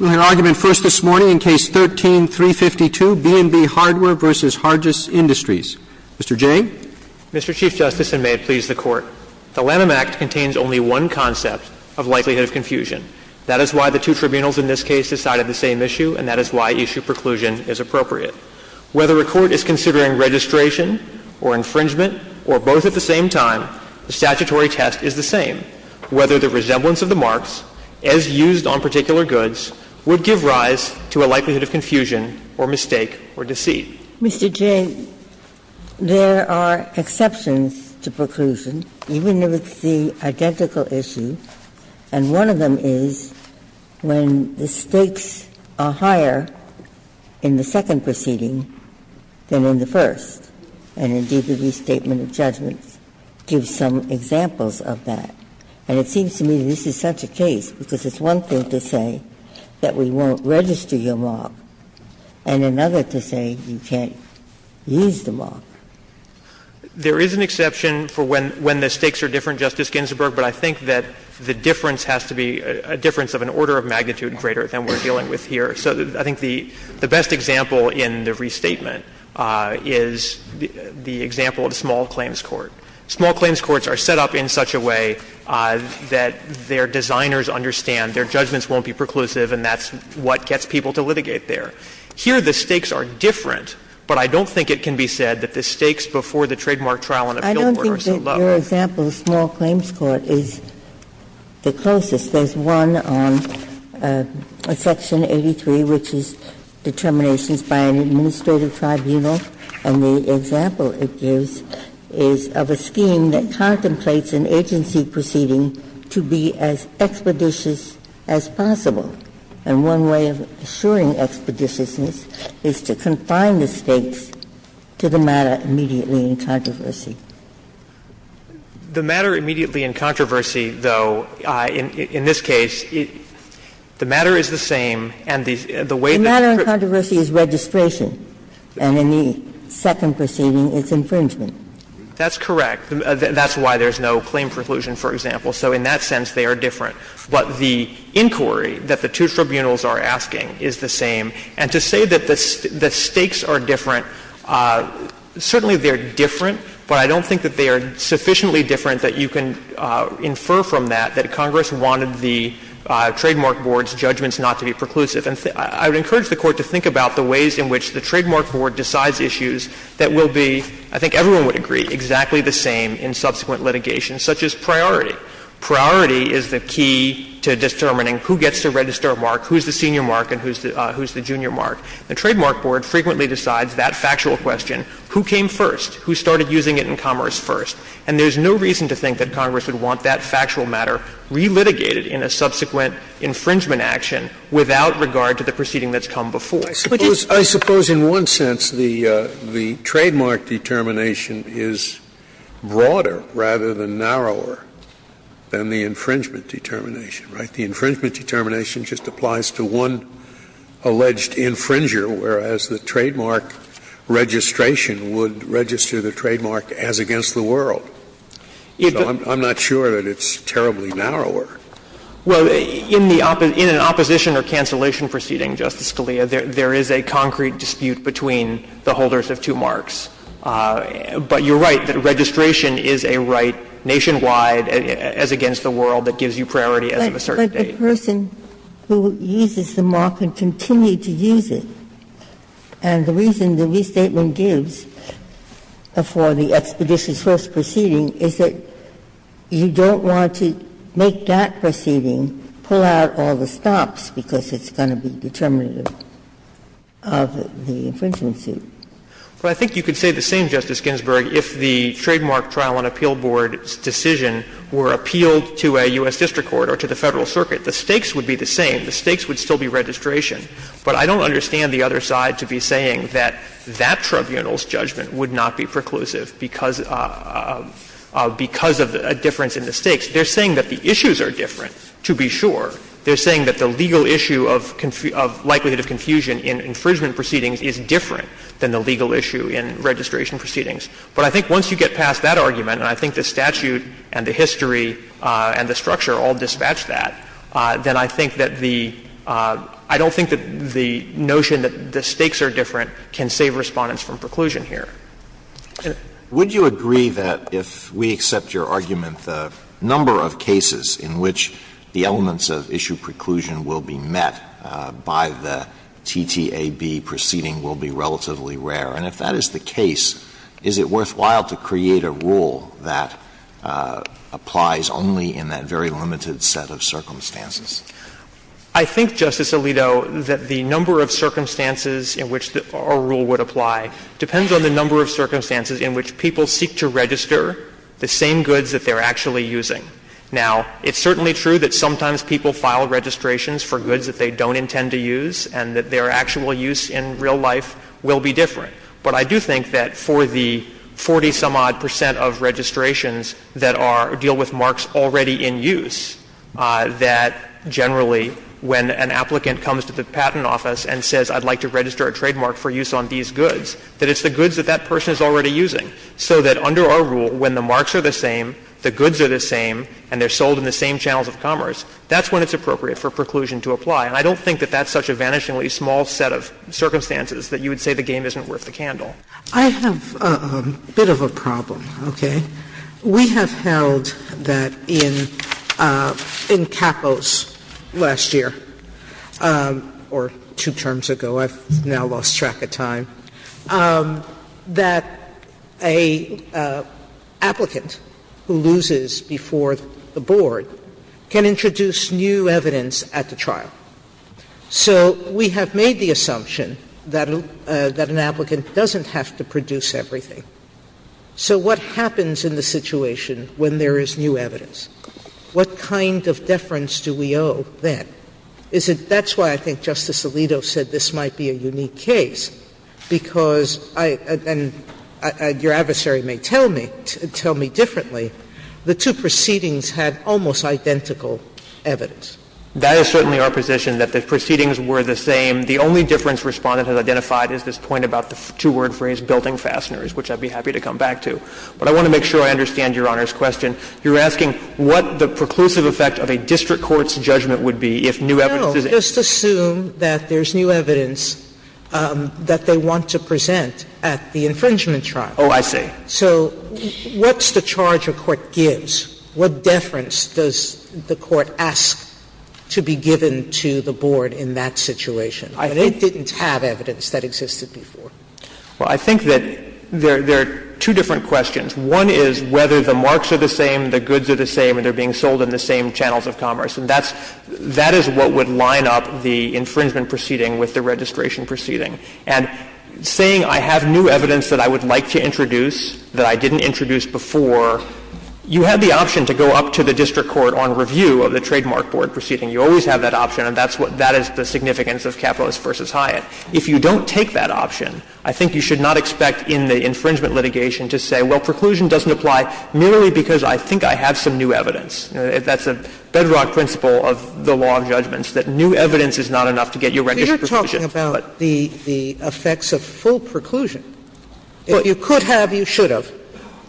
We'll hear argument first this morning in Case 13-352, B&B Hardware v. Hargis Industries. Mr. Jay? Mr. Chief Justice, and may it please the Court, the Lanham Act contains only one concept of likelihood of confusion. That is why the two tribunals in this case decided the same issue, and that is why issue preclusion is appropriate. Whether a court is considering registration or infringement or both at the same time, the statutory test is the same. Whether the resemblance of the marks, as used on particular goods, would give rise to a likelihood of confusion or mistake or deceit. Mr. Jay, there are exceptions to preclusion, even if it's the identical issue, and one of them is when the stakes are higher in the second proceeding than in the first, and indeed the restatement of judgments gives some examples of that. And it seems to me this is such a case, because it's one thing to say that we won't register your mark, and another to say you can't use the mark. There is an exception for when the stakes are different, Justice Ginsburg, but I think that the difference has to be a difference of an order of magnitude greater than we're dealing with here. So I think the best example in the restatement is the example of a small claims court. Small claims courts are set up in such a way that their designers understand their judgments won't be preclusive, and that's what gets people to litigate there. Here the stakes are different, but I don't think it can be said that the stakes before the trademark trial and appeal court are so low. Ginsburg's example of a small claims court is the closest. There's one on Section 83, which is determinations by an administrative tribunal, and the example it gives is of a scheme that contemplates an agency proceeding to be as expeditious as possible. And one way of assuring expeditiousness is to confine the stakes to the matter immediately in controversy. The matter immediately in controversy, though, in this case, the matter is the same, and the way that the stakes are different. and the matter is the same, and the way that the stakes are different. The matter in controversy is registration, and in the second proceeding, it's infringement. That's correct. That's why there's no claim preclusion, for example. So in that sense, they are different. But the inquiry that the two tribunals are asking is the same. And I would like to think about the ways in which the Trademark Board decides issues that will be, I think everyone would agree, exactly the same in subsequent litigation, such as priority. Priority is the key to determining who gets to register a mark, who's the senior mark, and who's the junior mark. The Trademark Board frequently decides that factual question, who came first, who started using it in commerce first. And there's no reason to think that Congress would want that factual matter relitigated in a subsequent infringement action without regard to the proceeding that's come before. Scalia. I suppose in one sense the trademark determination is broader rather than narrower than the infringement determination, right? The infringement determination just applies to one alleged infringer, whereas the trademark registration would register the trademark as against the world. So I'm not sure that it's terribly narrower. Well, in the opposition or cancellation proceeding, Justice Scalia, there is a concrete dispute between the holders of two marks. But you're right that registration is a right nationwide as against the world that gives you priority as of a certain date. But the person who uses the mark can continue to use it. And the reason the restatement gives for the Expeditions First proceeding is that you don't want to make that proceeding pull out all the stops because it's going to be determinative of the infringement suit. But I think you could say the same, Justice Ginsburg, if the trademark trial and appeal board's decision were appealed to a U.S. district court or to the Federal Circuit. The stakes would be the same. The stakes would still be registration. But I don't understand the other side to be saying that that tribunal's judgment would not be preclusive because of a difference in the stakes. They're saying that the issues are different, to be sure. They're saying that the legal issue of likelihood of confusion in infringement proceedings is different than the legal issue in registration proceedings. But I think once you get past that argument, and I think the statute and the history and the structure all dispatch that, then I think that the — I don't think that the notion that the stakes are different can save Respondents from preclusion here. Alito, would you agree that if we accept your argument, the number of cases in which the elements of issue preclusion will be met by the TTAB proceeding will be relatively rare? And if that is the case, is it worthwhile to create a rule that applies only in that very limited set of circumstances? I think, Justice Alito, that the number of circumstances in which a rule would apply depends on the number of circumstances in which people seek to register the same goods that they're actually using. Now, it's certainly true that sometimes people file registrations for goods that they don't intend to use and that their actual use in real life will be different. But I do think that for the 40-some-odd percent of registrations that are — deal with marks already in use, that generally when an applicant comes to the Patent Office and says, I'd like to register a trademark for use on these goods, that it's the goods that that person is already using. So that under our rule, when the marks are the same, the goods are the same, and they're sold in the same channels of commerce, that's when it's appropriate for preclusion to apply. And I don't think that that's such a vanishingly small set of circumstances that you would say the game isn't worth the candle. I have a bit of a problem, okay? We have held that in CAPPOS last year, or two terms ago, I've now lost track of time, that an applicant who loses before the board can introduce new evidence at the trial. So we have made the assumption that an applicant doesn't have to produce everything. So what happens in the situation when there is new evidence? What kind of deference do we owe then? Is it — that's why I think Justice Alito said this might be a unique case, because I — and your adversary may tell me — tell me differently, the two proceedings had almost identical evidence. That is certainly our position, that the proceedings were the same. The only difference Respondent has identified is this point about the two-word phrase, building fasteners, which I'd be happy to come back to. But I want to make sure I understand Your Honor's question. You're asking what the preclusive effect of a district court's judgment would be if new evidence is— Sotomayor Just assume that there's new evidence that they want to present at the infringement Waxman Oh, I see. Sotomayor So what's the charge a court gives? What deference does the court ask to be given to the board in that situation when it didn't have evidence that existed before? Well, I think that there are two different questions. One is whether the marks are the same, the goods are the same, and they're being sold in the same channels of commerce. And that's — that is what would line up the infringement proceeding with the registration proceeding. And saying I have new evidence that I would like to introduce that I didn't introduce before, you have the option to go up to the district court on review of the trademark board proceeding. You always have that option, and that's what — that is the significance of Capitalist v. Hyatt. If you don't take that option, I think you should not expect in the infringement litigation to say, well, preclusion doesn't apply merely because I think I have some new evidence. That's a bedrock principle of the law of judgments, that new evidence is not enough to get you a registered preclusion. Sotomayor But you're talking about the effects of full preclusion. If you could have, you should have.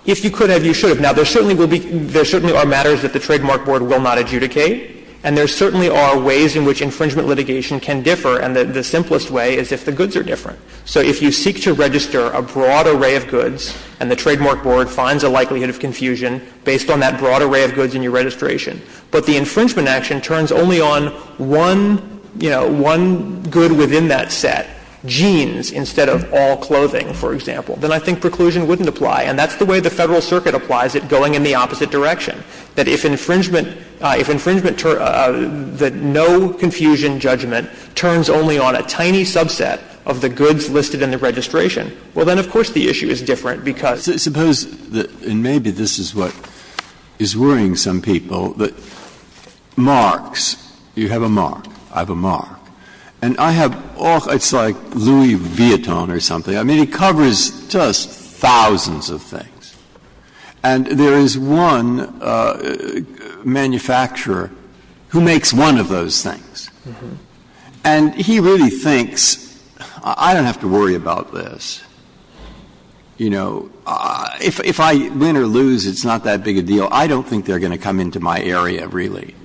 If you could have, you should have. Now, there certainly will be — there certainly are matters that the trademark board will not adjudicate, and there certainly are ways in which infringement litigation can differ, and the simplest way is if the goods are different. So if you seek to register a broad array of goods and the trademark board finds a likelihood of confusion based on that broad array of goods in your registration, but the infringement action turns only on one, you know, one good within that set, jeans instead of all clothing, for example, then I think preclusion wouldn't apply, and that's the way the Federal Circuit applies it, going in the opposite direction, that if infringement — if infringement — that no confusion justifies the judgment, turns only on a tiny subset of the goods listed in the registration, well, then, of course, the issue is different, because — Breyer And maybe this is what is worrying some people, that marks, you have a mark, I have a mark, and I have, oh, it's like Louis Vuitton or something. I mean, it covers just thousands of things, and there is one manufacturer who makes one of those things. And he really thinks, I don't have to worry about this, you know, if I win or lose, it's not that big a deal, I don't think they're going to come into my area, really.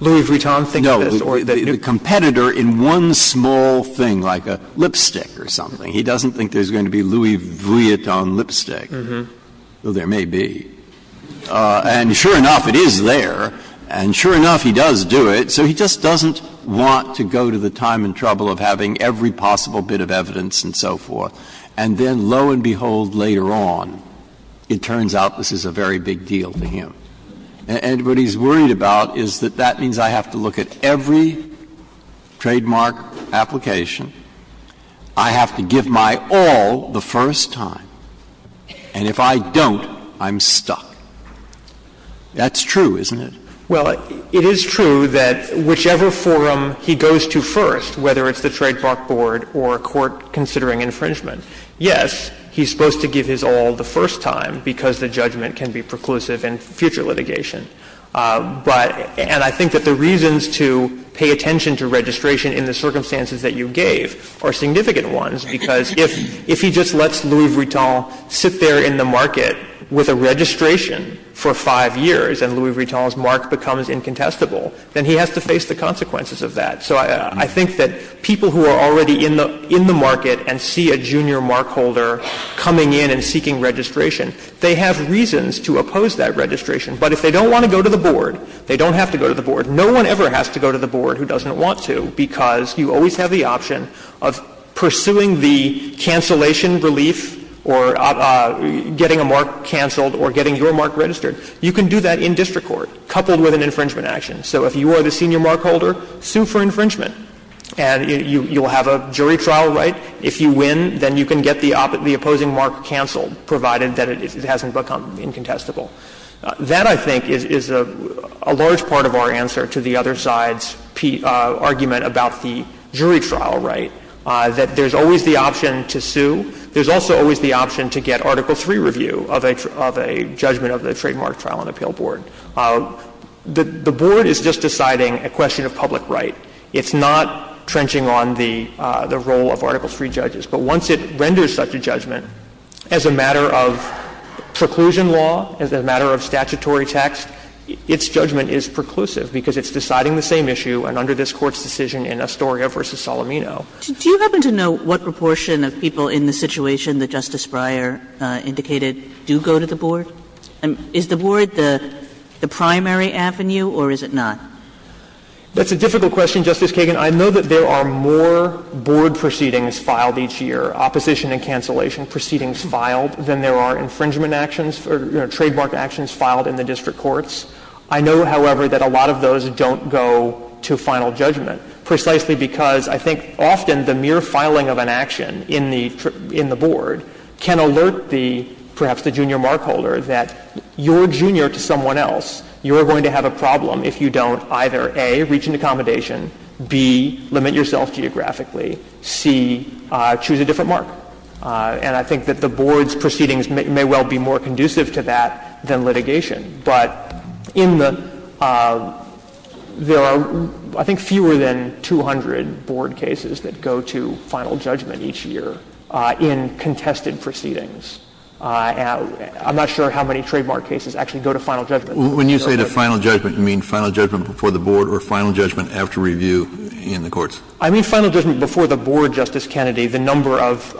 The competitor in one small thing, like a lipstick or something, he doesn't think there's going to be Louis Vuitton lipstick, though there may be. And sure enough, it is there, and sure enough, he does do it. So he just doesn't want to go to the time and trouble of having every possible bit of evidence and so forth, and then, lo and behold, later on, it turns out this is a very big deal for him. And what he's worried about is that that means I have to look at every trademark application, I have to give my all the first time, and if I don't, I'm stuck. That's true, isn't it? Well, it is true that whichever forum he goes to first, whether it's the Trademark Board or a court considering infringement, yes, he's supposed to give his all the first time because the judgment can be preclusive in future litigation. But — and I think that the reasons to pay attention to registration in the circumstances that you gave are significant ones, because if he just lets Louis Vuitton sit there in the market with a registration for five years and Louis Vuitton's mark becomes incontestable, then he has to face the consequences of that. So I think that people who are already in the market and see a junior mark holder coming in and seeking registration, they have reasons to oppose that registration. But if they don't want to go to the board, they don't have to go to the board. No one ever has to go to the board who doesn't want to, because you always have the option of getting a mark canceled or getting your mark registered. You can do that in district court, coupled with an infringement action. So if you are the senior mark holder, sue for infringement, and you will have a jury trial right. If you win, then you can get the opposing mark canceled, provided that it hasn't become incontestable. That, I think, is a large part of our answer to the other side's argument about the jury trial right, that there's always the option to sue. There's also always the option to get Article III review of a judgment of the Trademark Trial and Appeal Board. The board is just deciding a question of public right. It's not trenching on the role of Article III judges. But once it renders such a judgment, as a matter of preclusion law, as a matter of statutory text, its judgment is preclusive, because it's deciding the same issue and under this Court's decision in Astoria v. Solomino. Kagan. Do you happen to know what proportion of people in the situation that Justice Breyer indicated do go to the board? Is the board the primary avenue, or is it not? That's a difficult question, Justice Kagan. I know that there are more board proceedings filed each year, opposition and cancellation proceedings filed, than there are infringement actions or trademark actions filed in the district courts. I know, however, that a lot of those don't go to final judgment, precisely because I think often the mere filing of an action in the board can alert the, perhaps the junior markholder, that you're junior to someone else. You're going to have a problem if you don't either, A, reach an accommodation, B, limit yourself geographically, C, choose a different mark. And I think that the board's proceedings may well be more conducive to that than litigation. But in the — there are, I think, fewer than 200 board cases that go to final judgment each year in contested proceedings. And I'm not sure how many trademark cases actually go to final judgment. When you say to final judgment, you mean final judgment before the board or final judgment after review in the courts? I mean final judgment before the board, Justice Kennedy. The number of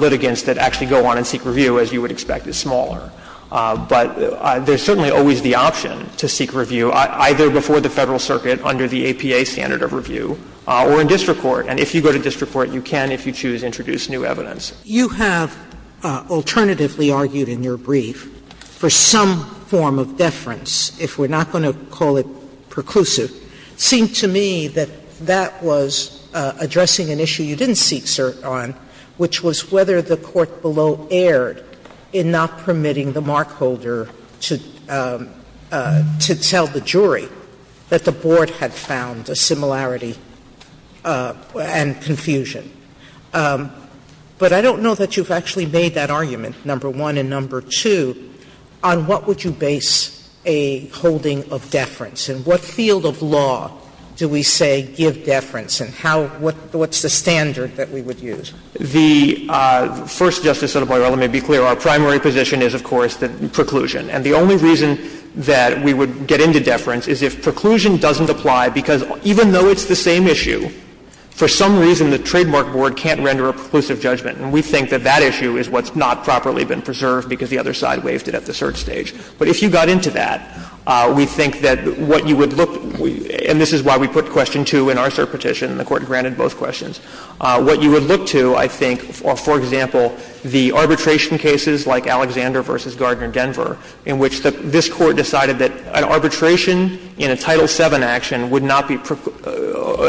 litigants that actually go on and seek review, as you would expect, is smaller. But there's certainly always the option to seek review, either before the Federal Circuit under the APA standard of review or in district court. And if you go to district court, you can, if you choose, introduce new evidence. Sotomayor, you have alternatively argued in your brief for some form of deference, if we're not going to call it preclusive. It seemed to me that that was addressing an issue you didn't seek cert on, which was whether the court below erred in not permitting the markholder to tell the jury that the board had found a similarity and confusion. But I don't know that you've actually made that argument, number one. And number two, on what would you base a holding of deference, and what field of law do we say give deference, and how — what's the standard that we would use? The first, Justice Sotomayor, let me be clear, our primary position is, of course, preclusion. And the only reason that we would get into deference is if preclusion doesn't apply, because even though it's the same issue, for some reason the trademark board can't render a preclusive judgment. And we think that that issue is what's not properly been preserved because the other side waived it at the cert stage. But if you got into that, we think that what you would look — and this is why we put question 2 in our cert petition, and the Court granted both questions. What you would look to, I think, for example, the arbitration cases like Alexander v. Gardner, Denver, in which this Court decided that an arbitration in a Title VII action would not be —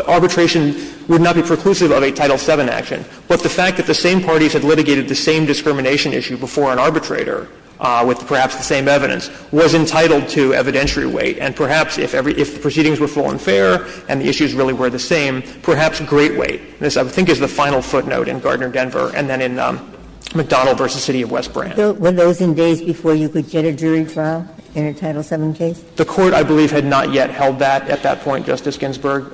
arbitration would not be preclusive of a Title VII action. But the fact that the same parties had litigated the same discrimination issue before an arbitrator with perhaps the same evidence was entitled to evidentiary weight. And perhaps if the proceedings were full and fair and the issues really were the same, perhaps great weight. And this, I think, is the final footnote in Gardner-Denver and then in McDonnell v. City of West Brant. Ginsburg. Were those in days before you could get a jury trial in a Title VII case? The Court, I believe, had not yet held that at that point, Justice Ginsburg.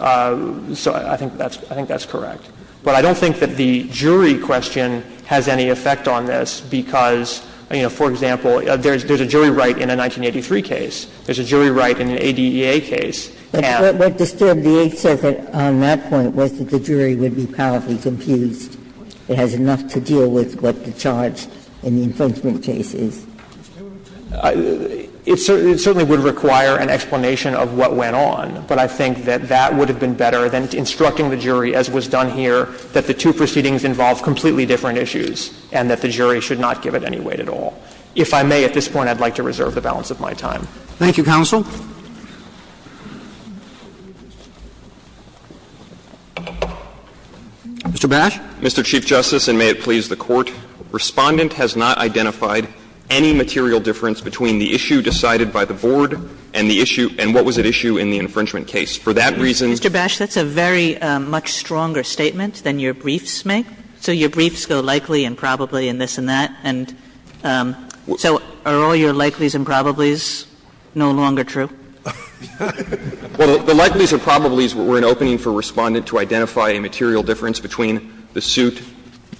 So I think that's — I think that's correct. But I don't think that the jury question has any effect on this because, you know, for example, there's a jury right in a 1983 case. There's a jury right in an ADEA case. Ginsburg. But what disturbed the Eighth Circuit on that point was that the jury would be powerfully confused. It has enough to deal with what the charge in the infringement case is. It certainly would require an explanation of what went on. But I think that that would have been better than instructing the jury, as was done here, that the two proceedings involve completely different issues and that the jury should not give it any weight at all. If I may at this point, I'd like to reserve the balance of my time. Thank you, counsel. Mr. Bash. Mr. Chief Justice, and may it please the Court, Respondent has not identified any material difference between the issue decided by the Board and the issue — and what was at issue in the infringement case. For that reason — Mr. Bash, that's a very much stronger statement than your briefs make. So your briefs go likely and probably and this and that. And so are all your likelihoods and probabilities no longer true? Well, the likelihoods and probabilities were an opening for Respondent to identify a material difference between the suit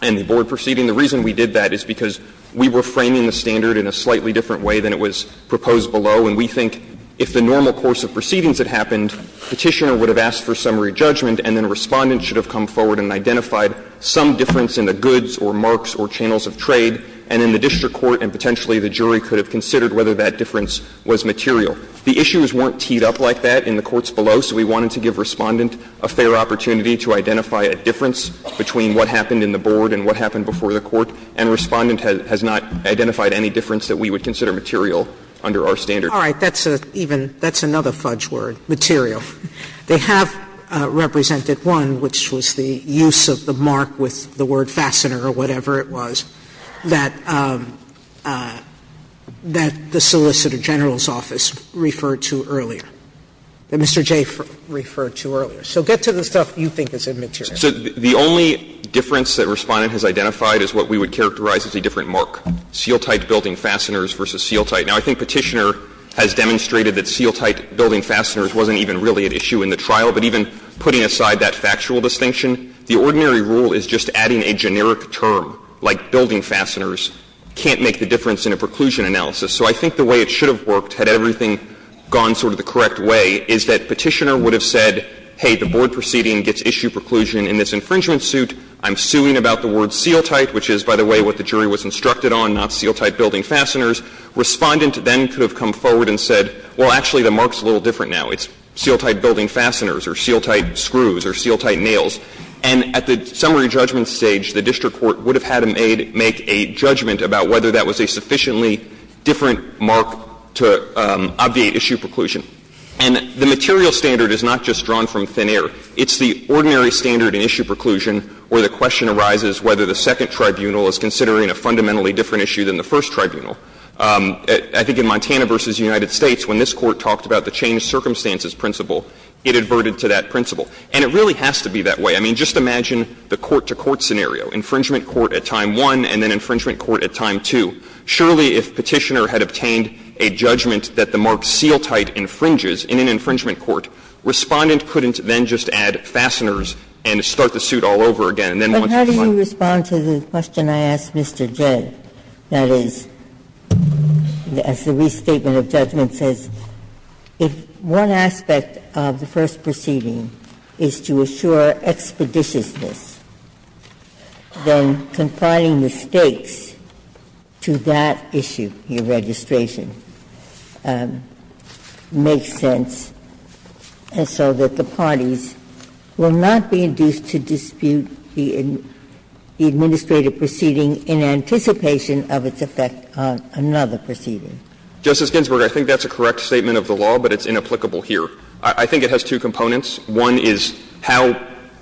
and the Board proceeding. The reason we did that is because we were framing the standard in a slightly different way than it was proposed below, and we think if the normal course of proceedings had happened, Petitioner would have asked for summary judgment and then Respondent should have come forward and identified some difference in the goods or marks or channels of trade, and then the district court and potentially the jury could have considered whether that difference was material. The issues weren't teed up like that in the courts below, so we wanted to give Respondent a fair opportunity to identify a difference between what happened in the Board and what happened before the Court, and Respondent has not identified any difference that we would consider material under our standard. All right. That's even — that's another fudge word, material. They have represented one, which was the use of the mark with the word fastener or whatever it was, that — that the Solicitor General's office referred to earlier, that Mr. Jay referred to earlier. So get to the stuff you think is immaterial. So the only difference that Respondent has identified is what we would characterize as a different mark, seal-tight building fasteners versus seal-tight. Now, I think Petitioner has demonstrated that seal-tight building fasteners wasn't even really an issue in the trial, but even putting aside that factual distinction, the ordinary rule is just adding a generic term, like building fasteners, can't make the difference in a preclusion analysis. So I think the way it should have worked, had everything gone sort of the correct way, is that Petitioner would have said, hey, the Board proceeding gets issue preclusion in this infringement suit. I'm suing about the word seal-tight, which is, by the way, what the jury was instructed on, not seal-tight building fasteners. Respondent then could have come forward and said, well, actually, the mark is a little different now. It's seal-tight building fasteners or seal-tight screws or seal-tight nails. And at the summary judgment stage, the district court would have had to make a judgment about whether that was a sufficiently different mark to obviate issue preclusion. And the material standard is not just drawn from thin air. It's the ordinary standard in issue preclusion where the question arises whether the second tribunal is considering a fundamentally different issue than the first tribunal. I think in Montana v. United States, when this Court talked about the changed circumstances principle, it adverted to that principle. And it really has to be that way. I mean, just imagine the court-to-court scenario, infringement court at time one and then infringement court at time two. Surely, if Petitioner had obtained a judgment that the mark seal-tight infringes in an infringement court, Respondent couldn't then just add fasteners and start And then once it was like that, it wouldn't be a problem. Ginsburg. But how do you respond to the question I asked Mr. Jett, that is, as the restatement of judgment says, if one aspect of the first proceeding is to assure expeditiousness, then confining the stakes to that issue, your registration, makes sense, and so that the parties will not be induced to dispute the administrative proceeding in anticipation of its effect on another proceeding? Justice Ginsburg, I think that's a correct statement of the law, but it's inapplicable here. I think it has two components. One is how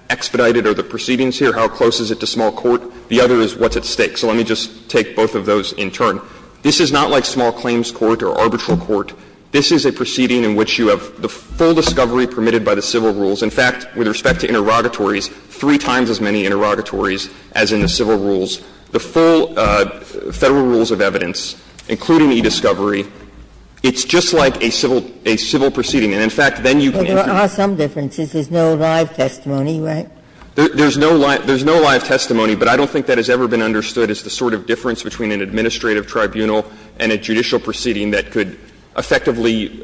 expedited are the proceedings here, how close is it to small court. The other is what's at stake. So let me just take both of those in turn. This is not like small claims court or arbitral court. This is a proceeding in which you have the full discovery permitted by the civil rules. In fact, with respect to interrogatories, three times as many interrogatories as in the civil rules. The full Federal rules of evidence, including e-discovery, it's just like a civil proceeding. And, in fact, then you can't But there are some differences. There's no live testimony, right? There's no live testimony, but I don't think that has ever been understood as the sort of difference between an administrative tribunal and a judicial proceeding that could effectively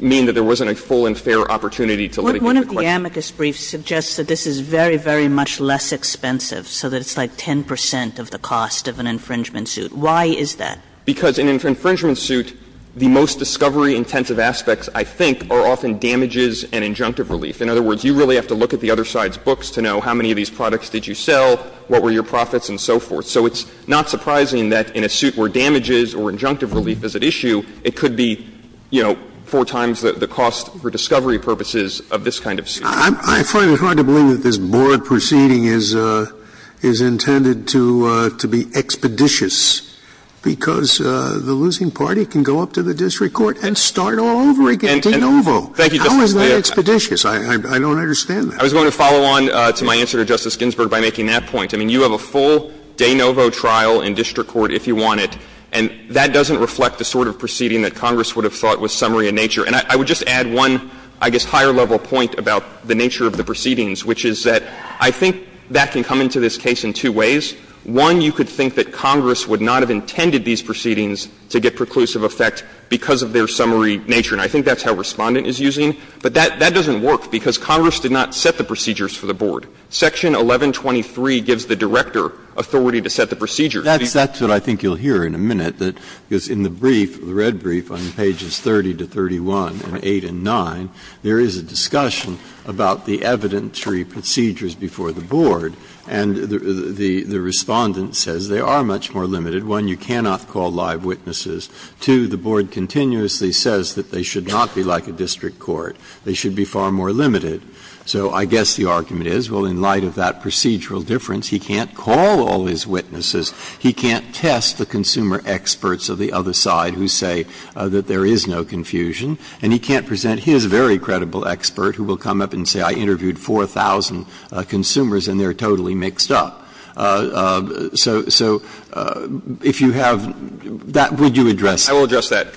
mean that there wasn't a full and fair opportunity to litigate the question. One of the amicus briefs suggests that this is very, very much less expensive, so that it's like 10 percent of the cost of an infringement suit. Why is that? Because in an infringement suit, the most discovery-intensive aspects, I think, are often damages and injunctive relief. In other words, you really have to look at the other side's books to know how many of these products did you sell, what were your profits, and so forth. So it's not surprising that in a suit where damages or injunctive relief is at issue, it could be, you know, four times the cost for discovery purposes of this kind of suit. Scalia. I find it hard to believe that this board proceeding is intended to be expeditious, because the losing party can go up to the district court and start all over again. De novo. Thank you, Justice Scalia. How is that expeditious? I don't understand that. I was going to follow on to my answer to Justice Ginsburg by making that point. I mean, you have a full de novo trial in district court if you want it, and that doesn't reflect the sort of proceeding that Congress would have thought was summary in nature. And I would just add one, I guess, higher level point about the nature of the proceedings, which is that I think that can come into this case in two ways. One, you could think that Congress would not have intended these proceedings to get preclusive effect because of their summary nature, and I think that's how Respondent is using. But that doesn't work, because Congress did not set the procedures for the board. Section 1123 gives the director authority to set the procedures. Breyer. That's what I think you'll hear in a minute, that in the brief, the red brief on pages 30 to 31 and 8 and 9, there is a discussion about the evidentiary procedures before the board, and the Respondent says they are much more limited. One, you cannot call live witnesses. Two, the board continuously says that they should not be like a district court. They should be far more limited. So I guess the argument is, well, in light of that procedural difference, he can't call all his witnesses. He can't test the consumer experts of the other side who say that there is no confusion, and he can't present his very credible expert who will come up and say, I interviewed 4,000 consumers and they're totally mixed up. So if you have that, would you address that? I will address that.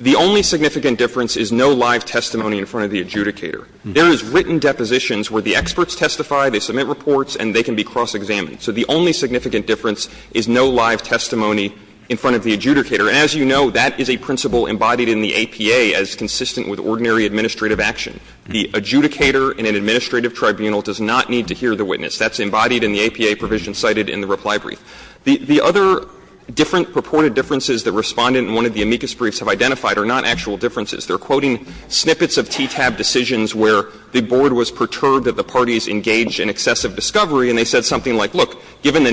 The only significant difference is no live testimony in front of the adjudicator. There is written depositions where the experts testify, they submit reports, and they can be cross-examined. So the only significant difference is no live testimony in front of the adjudicator. And as you know, that is a principle embodied in the APA as consistent with ordinary administrative action. The adjudicator in an administrative tribunal does not need to hear the witness. That's embodied in the APA provision cited in the reply brief. The other different purported differences that Respondent in one of the amicus briefs have identified are not actual differences. They're quoting snippets of TTAB decisions where the board was perturbed that the given the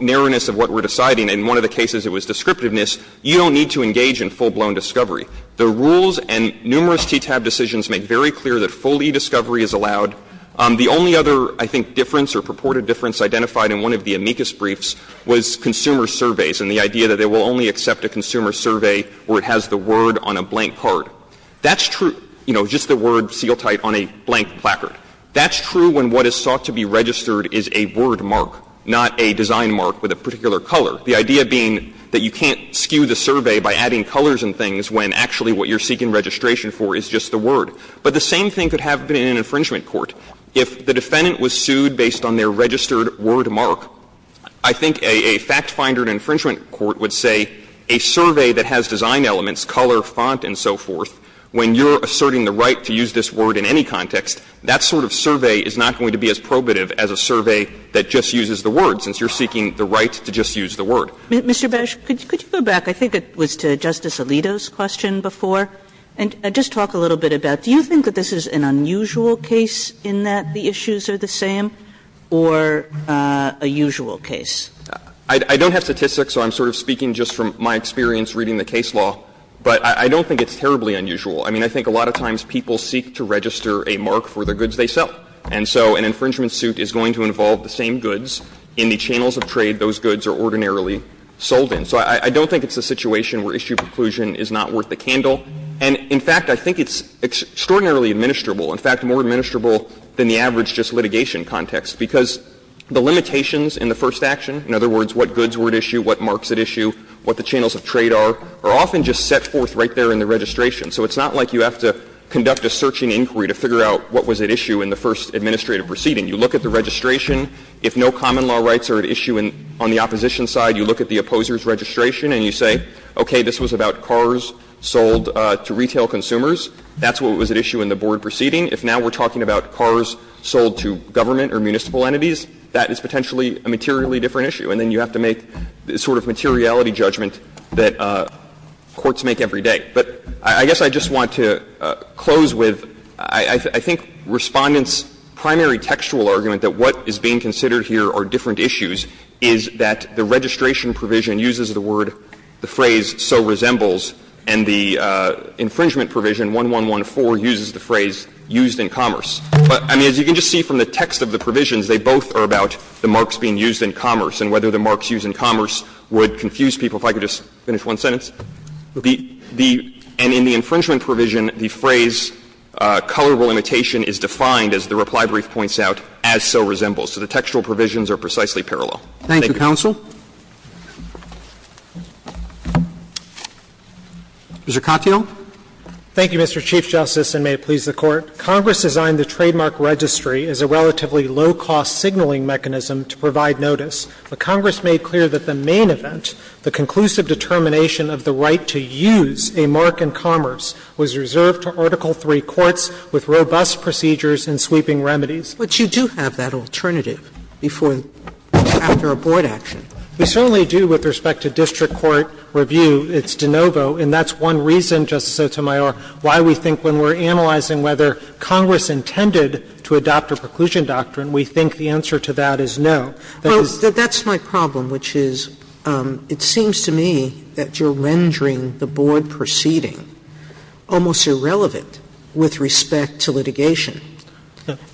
narrowness of what we're deciding, in one of the cases it was descriptiveness, you don't need to engage in full-blown discovery. The rules and numerous TTAB decisions make very clear that full e-discovery is allowed. The only other, I think, difference or purported difference identified in one of the amicus briefs was consumer surveys and the idea that they will only accept a consumer survey where it has the word on a blank card. That's true, you know, just the word seal tight on a blank placard. That's true when what is sought to be registered is a word mark, not a design mark with a particular color. The idea being that you can't skew the survey by adding colors and things when actually what you're seeking registration for is just the word. But the same thing could have been in an infringement court. If the defendant was sued based on their registered word mark, I think a fact finder in an infringement court would say a survey that has design elements, color, font, and so forth, when you're asserting the right to use this word in any context, that sort of survey is not going to be as probative as a survey that just uses the word, since you're seeking the right to just use the word. Kagan. Mr. Bash, could you go back? I think it was to Justice Alito's question before, and just talk a little bit about do you think that this is an unusual case in that the issues are the same, or a usual case? I don't have statistics, so I'm sort of speaking just from my experience reading the case law, but I don't think it's terribly unusual. I mean, I think a lot of times people seek to register a mark for the goods they sell. And so an infringement suit is going to involve the same goods in the channels of trade those goods are ordinarily sold in. So I don't think it's a situation where issue preclusion is not worth the candle. And, in fact, I think it's extraordinarily administrable, in fact, more administrable than the average just litigation context, because the limitations in the first action, in other words, what goods were at issue, what marks at issue, what the channels of trade are, are often just set forth right there in the registration. So it's not like you have to conduct a searching inquiry to figure out what was at issue in the first administrative proceeding. You look at the registration. If no common law rights are at issue on the opposition side, you look at the opposer's registration and you say, okay, this was about cars sold to retail consumers. That's what was at issue in the board proceeding. If now we're talking about cars sold to government or municipal entities, that is potentially a materially different issue. And then you have to make the sort of materiality judgment that courts make every day. But I guess I just want to close with, I think Respondent's primary textual argument that what is being considered here are different issues is that the registration provision uses the word, the phrase, so resembles, and the infringement provision, 1114, uses the phrase, used in commerce. But, I mean, as you can just see from the text of the provisions, they both are about the marks being used in commerce and whether the marks used in commerce would confuse people. If I could just finish one sentence. The — and in the infringement provision, the phrase, colorable imitation, is defined, as the reply brief points out, as so resembles. So the textual provisions are precisely parallel. Thank you. Roberts. Mr. Katyal. Katyal. Thank you, Mr. Chief Justice, and may it please the Court. Congress designed the trademark registry as a relatively low-cost signaling mechanism to provide notice. But Congress made clear that the main event, the conclusive determination of the right to use a mark in commerce, was reserved to Article III courts with robust procedures and sweeping remedies. But you do have that alternative before — after a board action. We certainly do with respect to district court review. It's de novo, and that's one reason, Justice Sotomayor, why we think when we're formalizing whether Congress intended to adopt a preclusion doctrine, we think the answer to that is no. That is — Sotomayor That's my problem, which is it seems to me that you're rendering the board proceeding almost irrelevant with respect to litigation.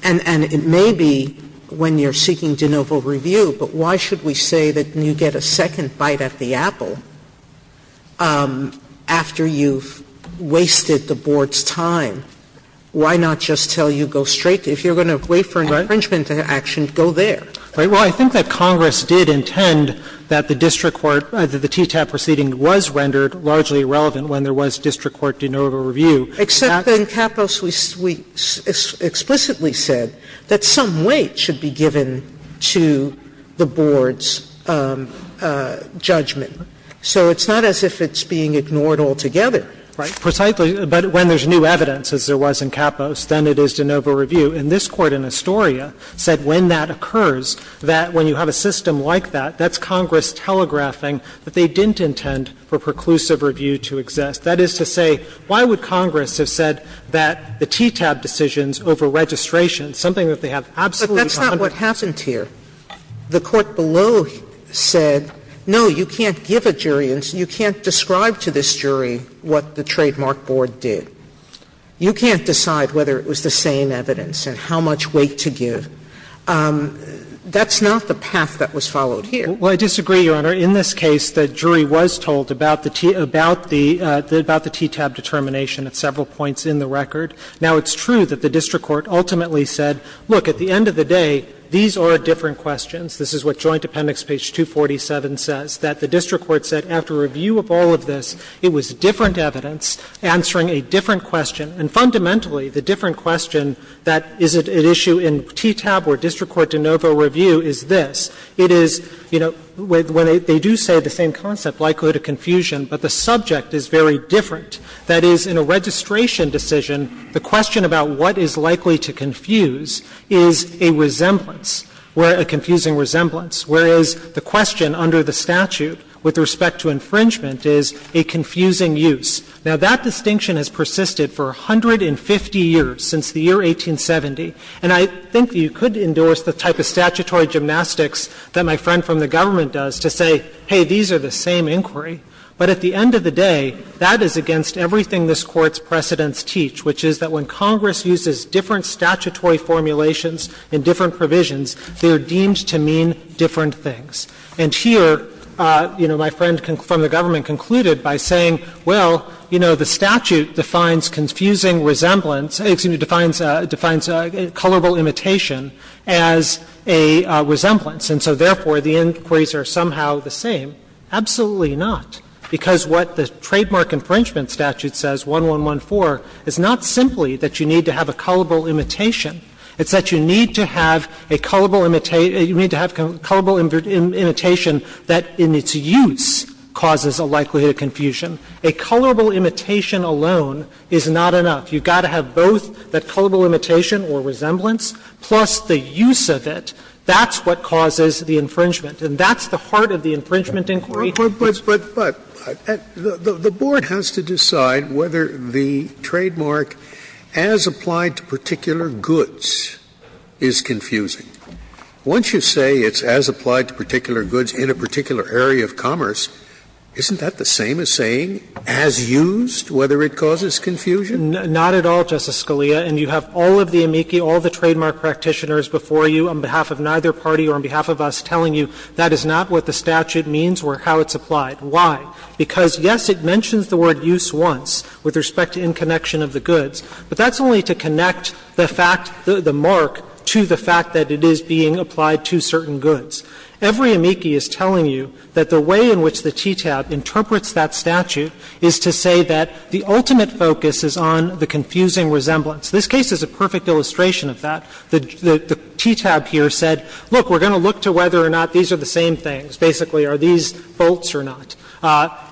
And it may be when you're seeking de novo review, but why should we say that you get a second bite at the apple after you've wasted the board's time? Why not just tell you, go straight to — if you're going to wait for an infringement action, go there? Right? Well, I think that Congress did intend that the district court — that the TTAP proceeding was rendered largely irrelevant when there was district court de novo review. Except that in Capos we explicitly said that some weight should be given to the board's judgment. So it's not as if it's being ignored altogether. Right? Precisely. But when there's new evidence, as there was in Capos, then it is de novo review. And this Court in Astoria said when that occurs, that when you have a system like that, that's Congress telegraphing that they didn't intend for preclusive review to exist. That is to say, why would Congress have said that the TTAP decisions over registration, something that they have absolutely— Sotomayor But that's not what happened here. The Court below said, no, you can't give a jury and you can't describe to this jury what the trademark board did. You can't decide whether it was the same evidence and how much weight to give. That's not the path that was followed here. Well, I disagree, Your Honor. In this case, the jury was told about the TTAP determination at several points in the record. Now, it's true that the district court ultimately said, look, at the end of the day, these are different questions. This is what Joint Appendix page 247 says, that the district court said after review of all of this, it was different evidence answering a different question. And fundamentally, the different question that is at issue in TTAP or district court de novo review is this. It is, you know, when they do say the same concept, likelihood of confusion, but the subject is very different. That is, in a registration decision, the question about what is likely to confuse is a resemblance, a confusing resemblance, whereas the question under the statute with respect to infringement is a confusing use. Now, that distinction has persisted for 150 years, since the year 1870. And I think that you could endorse the type of statutory gymnastics that my friend from the government does to say, hey, these are the same inquiry, but at the end of the day, that is against everything this Court's precedents teach, which is that when Congress uses different statutory formulations and different provisions, they are deemed to mean different things. And here, you know, my friend from the government concluded by saying, well, you know, the statute defines confusing resemblance — excuse me, defines — defines a colorable imitation as a resemblance, and so therefore, the inquiries are somehow the same. Absolutely not, because what the trademark infringement statute says, 1114, is not simply that you need to have a colorable imitation. It's that you need to have a colorable imitation that in its use causes a likelihood of confusion. A colorable imitation alone is not enough. You've got to have both that colorable imitation or resemblance, plus the use of it. That's what causes the infringement, and that's the heart of the infringement inquiry. Scalia, and you have all of the amici, all the trademark practitioners before you on behalf of neither party or on behalf of us telling you that is not what the confusion. I'm not going to go into the details of how it's applied, why, because, yes, it mentions the word use once with respect to in connection of the goods, but that's only to connect the fact, the mark, to the fact that it is being applied to certain goods. Every amici is telling you that the way in which the TTAB interprets that statute is to say that the ultimate focus is on the confusing resemblance. This case is a perfect illustration of that. The TTAB here said, look, we're going to look to whether or not these are the same things, basically, are these bolts or not,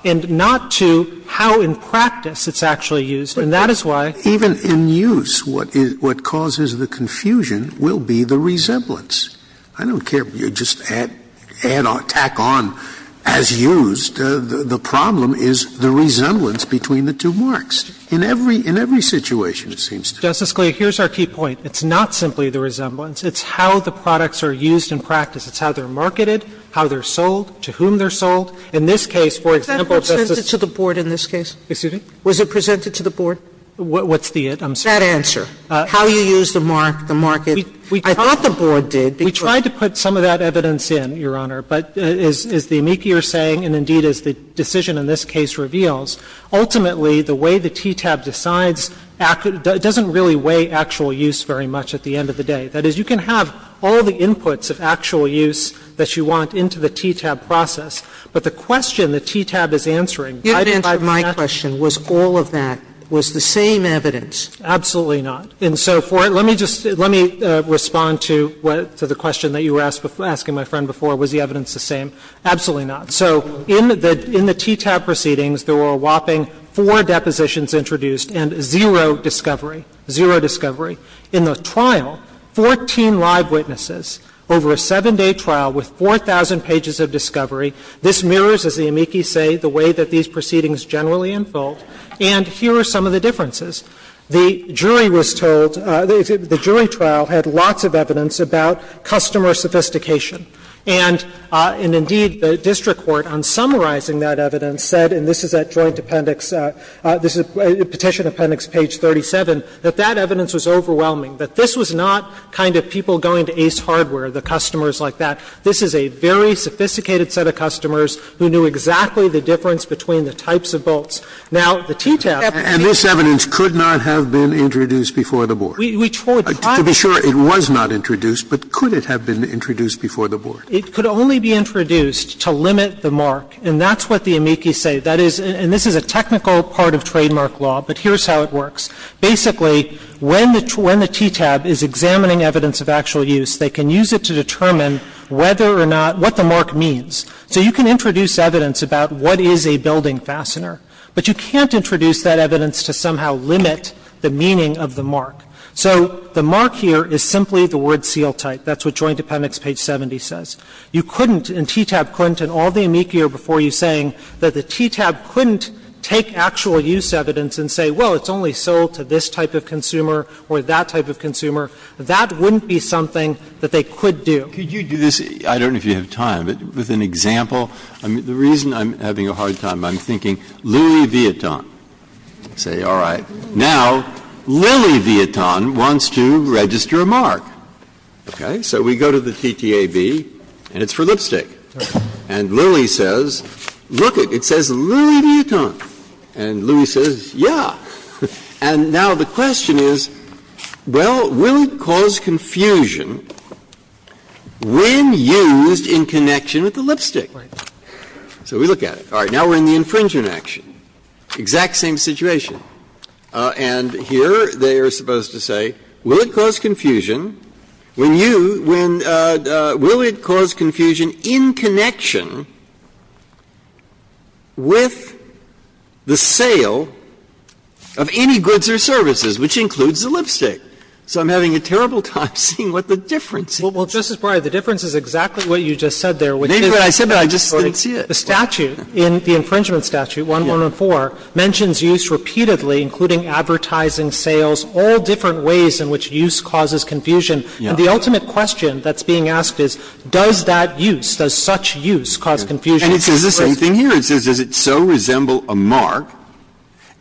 and not to how in practice it's actually used, and that is why. Scalia, even in use, what causes the confusion will be the resemblance. I don't care if you just add or tack on as used. The problem is the resemblance between the two marks. In every situation, it seems to me. Justice Scalia, here's our key point. It's not simply the resemblance. It's how the products are used in practice. It's how they're marketed, how they're sold, to whom they're sold. In this case, for example, Justice Sotomayor. Sotomayor, was that presented to the board in this case? Excuse me? Was it presented to the board? What's the it? I'm sorry. That answer, how you use the mark, the market. I thought the board did, because we tried to put some of that evidence in, Your Honor, but as the amici are saying, and indeed as the decision in this case reveals, ultimately, the way the TTAB decides doesn't really weigh actual use very much at the end of the day. That is, you can have all the inputs of actual use that you want into the TTAB process, but the question the TTAB is answering, by the fact that that's the case, it's Sotomayor, did you answer my question, was all of that, was the same evidence? Absolutely not. And so for it, let me just, let me respond to what, to the question that you were asking my friend before, was the evidence the same? Absolutely not. So in the TTAB proceedings, there were a whopping four depositions introduced and zero discovery, zero discovery. In the trial, 14 live witnesses over a seven-day trial with 4,000 pages of discovery. This mirrors, as the amici say, the way that these proceedings generally unfold. And here are some of the differences. The jury was told, the jury trial had lots of evidence about customer sophistication. And indeed, the district court, on summarizing that evidence, said, and this is at joint appendix, this is Petition Appendix page 37, that that evidence was overwhelming, that this was not kind of people going to Ace Hardware, the customers like that. This is a very sophisticated set of customers who knew exactly the difference between the types of bolts. Now, the TTAB, and this evidence could not have been introduced before the board. To be sure, it was not introduced, but could it have been introduced before the board? It could only be introduced to limit the mark, and that's what the amici say. That is, and this is a technical part of trademark law, but here's how it works. Basically, when the TTAB is examining evidence of actual use, they can use it to determine whether or not, what the mark means. So you can introduce evidence about what is a building fastener, but you can't introduce that evidence to somehow limit the meaning of the mark. So the mark here is simply the word seal type. That's what Joint Appendix page 70 says. You couldn't, and TTAB couldn't, and all the amici are before you saying that the TTAB couldn't take actual use evidence and say, well, it's only sold to this type of consumer or that type of consumer. That wouldn't be something that they could do. Breyer, I don't know if you have time, but with an example, the reason I'm having a hard time, I'm thinking Louis Vuitton. Say, all right, now, Louis Vuitton wants to register a mark. Okay? So we go to the TTAB, and it's for lipstick. And Louis says, look, it says Louis Vuitton. And Louis says, yeah. And now the question is, well, will it cause confusion when used in connection with the lipstick? So we look at it. All right. Now we're in the infringement action. Exact same situation. And here they are supposed to say, will it cause confusion when you – when – will it cause confusion in connection with the sale of any goods or services, which includes the lipstick? So I'm having a terrible time seeing what the difference is. Well, Justice Breyer, the difference is exactly what you just said there, which is that I just think the statute, in the infringement statute, 114, mentions use repeatedly including advertising, sales, all different ways in which use causes confusion. And the ultimate question that's being asked is, does that use, does such use cause confusion? And it says the same thing here. It says, does it so resemble a mark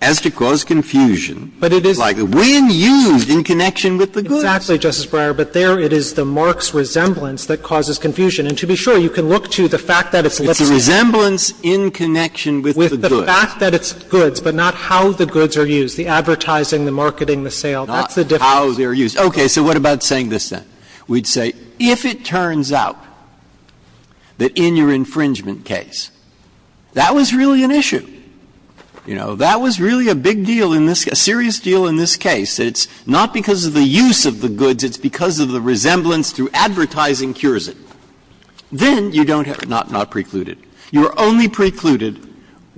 as to cause confusion? But it is – Like when used in connection with the goods. Exactly, Justice Breyer. But there it is, the mark's resemblance that causes confusion. And to be sure, you can look to the fact that it's lipstick. It's a resemblance in connection with the goods. The fact that it's goods, but not how the goods are used, the advertising, the marketing, the sale, that's the difference. Not how they're used. Okay. So what about saying this, then? We'd say, if it turns out that in your infringement case that was really an issue, you know, that was really a big deal in this – a serious deal in this case, that it's not because of the use of the goods, it's because of the resemblance through advertising cures it, then you don't have it not precluded. You're only precluded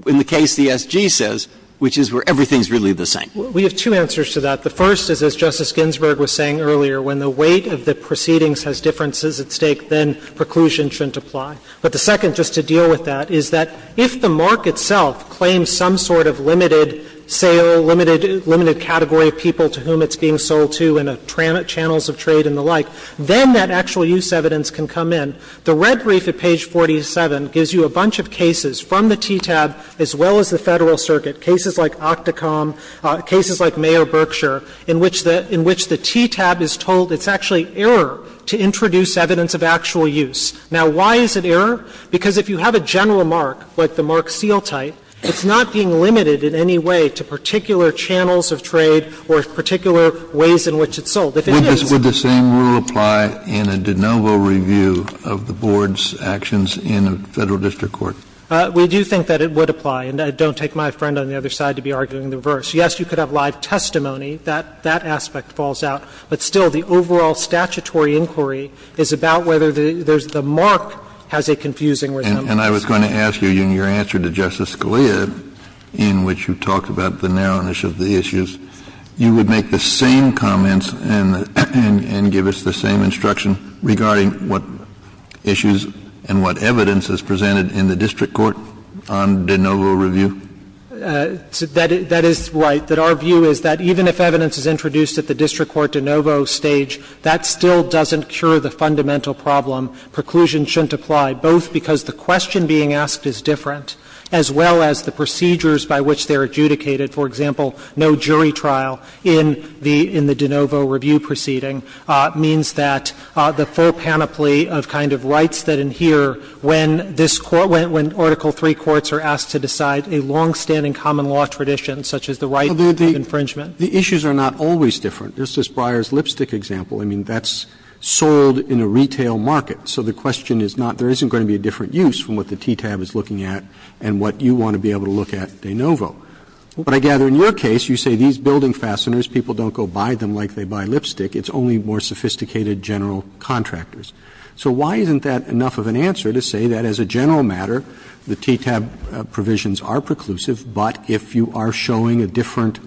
in the case the SG says, which is where everything's really the same. We have two answers to that. The first is, as Justice Ginsburg was saying earlier, when the weight of the proceedings has differences at stake, then preclusion shouldn't apply. But the second, just to deal with that, is that if the mark itself claims some sort of limited sale, limited category of people to whom it's being sold to in channels of trade and the like, then that actual use evidence can come in. The red brief at page 47 gives you a bunch of cases from the TTAB as well as the Federal Circuit, cases like Octocom, cases like Mayor Berkshire, in which the TTAB is told it's actually error to introduce evidence of actual use. Now, why is it error? Because if you have a general mark, like the mark seal type, it's not being limited in any way to particular channels of trade or particular ways in which it's sold. If it is. Kennedy, would the same rule apply in a de novo review of the board's actions in a Federal district court? We do think that it would apply, and I don't take my friend on the other side to be arguing the reverse. Yes, you could have live testimony. That aspect falls out. But still, the overall statutory inquiry is about whether the mark has a confusing resemblance. And I was going to ask you, in your answer to Justice Scalia, in which you talked about the narrowness of the issues, you would make the same comments and give us the same instruction regarding what issues and what evidence is presented in the district court on de novo review? That is right. That our view is that even if evidence is introduced at the district court de novo stage, that still doesn't cure the fundamental problem. Preclusion shouldn't apply, both because the question being asked is different, as well as the procedures by which they are adjudicated. For example, no jury trial in the de novo review proceeding means that the full panoply of kind of rights that adhere when this Court, when Article III courts are asked to decide a longstanding common law tradition, such as the right to infringement. The issues are not always different. Just as Breyer's lipstick example, I mean, that's sold in a retail market. So the question is not there isn't going to be a different use from what the TTAB is looking at and what you want to be able to look at de novo. But I gather in your case, you say these building fasteners, people don't go buy them like they buy lipstick. It's only more sophisticated general contractors. So why isn't that enough of an answer to say that as a general matter, the TTAB provisions are preclusive, but if you are showing a different,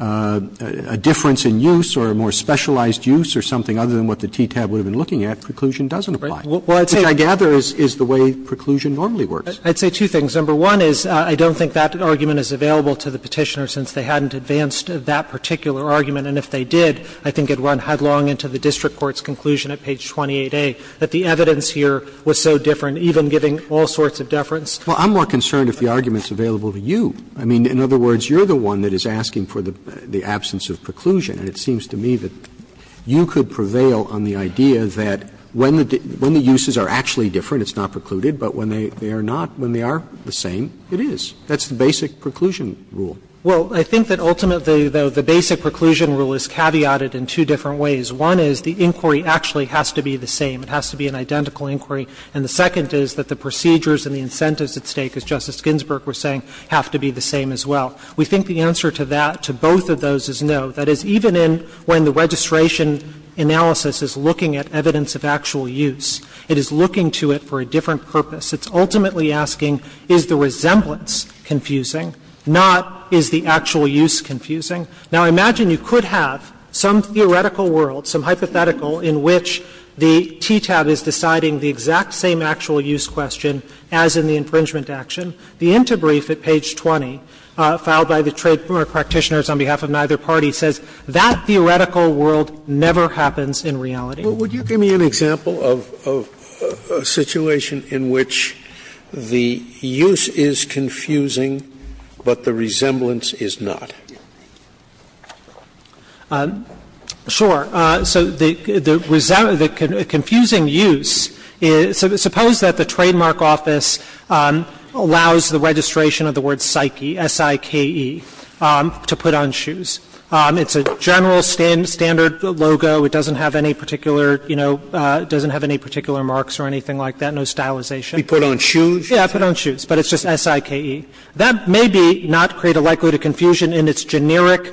a difference in use or a more specialized use or something other than what the TTAB would have been looking at, preclusion doesn't apply, which I gather is the way preclusion normally works. I'd say two things. Number one is I don't think that argument is available to the Petitioner since they hadn't advanced that particular argument, and if they did, I think it would run headlong into the district court's conclusion at page 28A, that the evidence here was so different, even giving all sorts of deference. Well, I'm more concerned if the argument is available to you. I mean, in other words, you're the one that is asking for the absence of preclusion. And it seems to me that you could prevail on the idea that when the uses are actually different, it's not precluded, but when they are not, when they are the same, it is. That's the basic preclusion rule. Well, I think that ultimately, though, the basic preclusion rule is caveated in two different ways. One is the inquiry actually has to be the same. It has to be an identical inquiry. And the second is that the procedures and the incentives at stake, as Justice Ginsburg was saying, have to be the same as well. We think the answer to that, to both of those, is no. That is, even in when the registration analysis is looking at evidence of actual use, it is looking to it for a different purpose. It's ultimately asking, is the resemblance confusing, not is the actual use confusing? Now, I imagine you could have some theoretical world, some hypothetical in which the TTAB is deciding the exact same actual use question as in the infringement action. The interbrief at page 20, filed by the trademark practitioners on behalf of neither party, says that theoretical world never happens in reality. Scalia, would you give me an example of a situation in which the use is confusing, but the resemblance is not? Sure. So the confusing use is, suppose that the trademark office allows the registration of the word Psyche, S-I-K-E, to put on shoes. It's a general standard logo. It doesn't have any particular, you know, it doesn't have any particular marks or anything like that, no stylization. We put on shoes? Yeah, put on shoes, but it's just S-I-K-E. That may be not create a likelihood of confusion in its generic,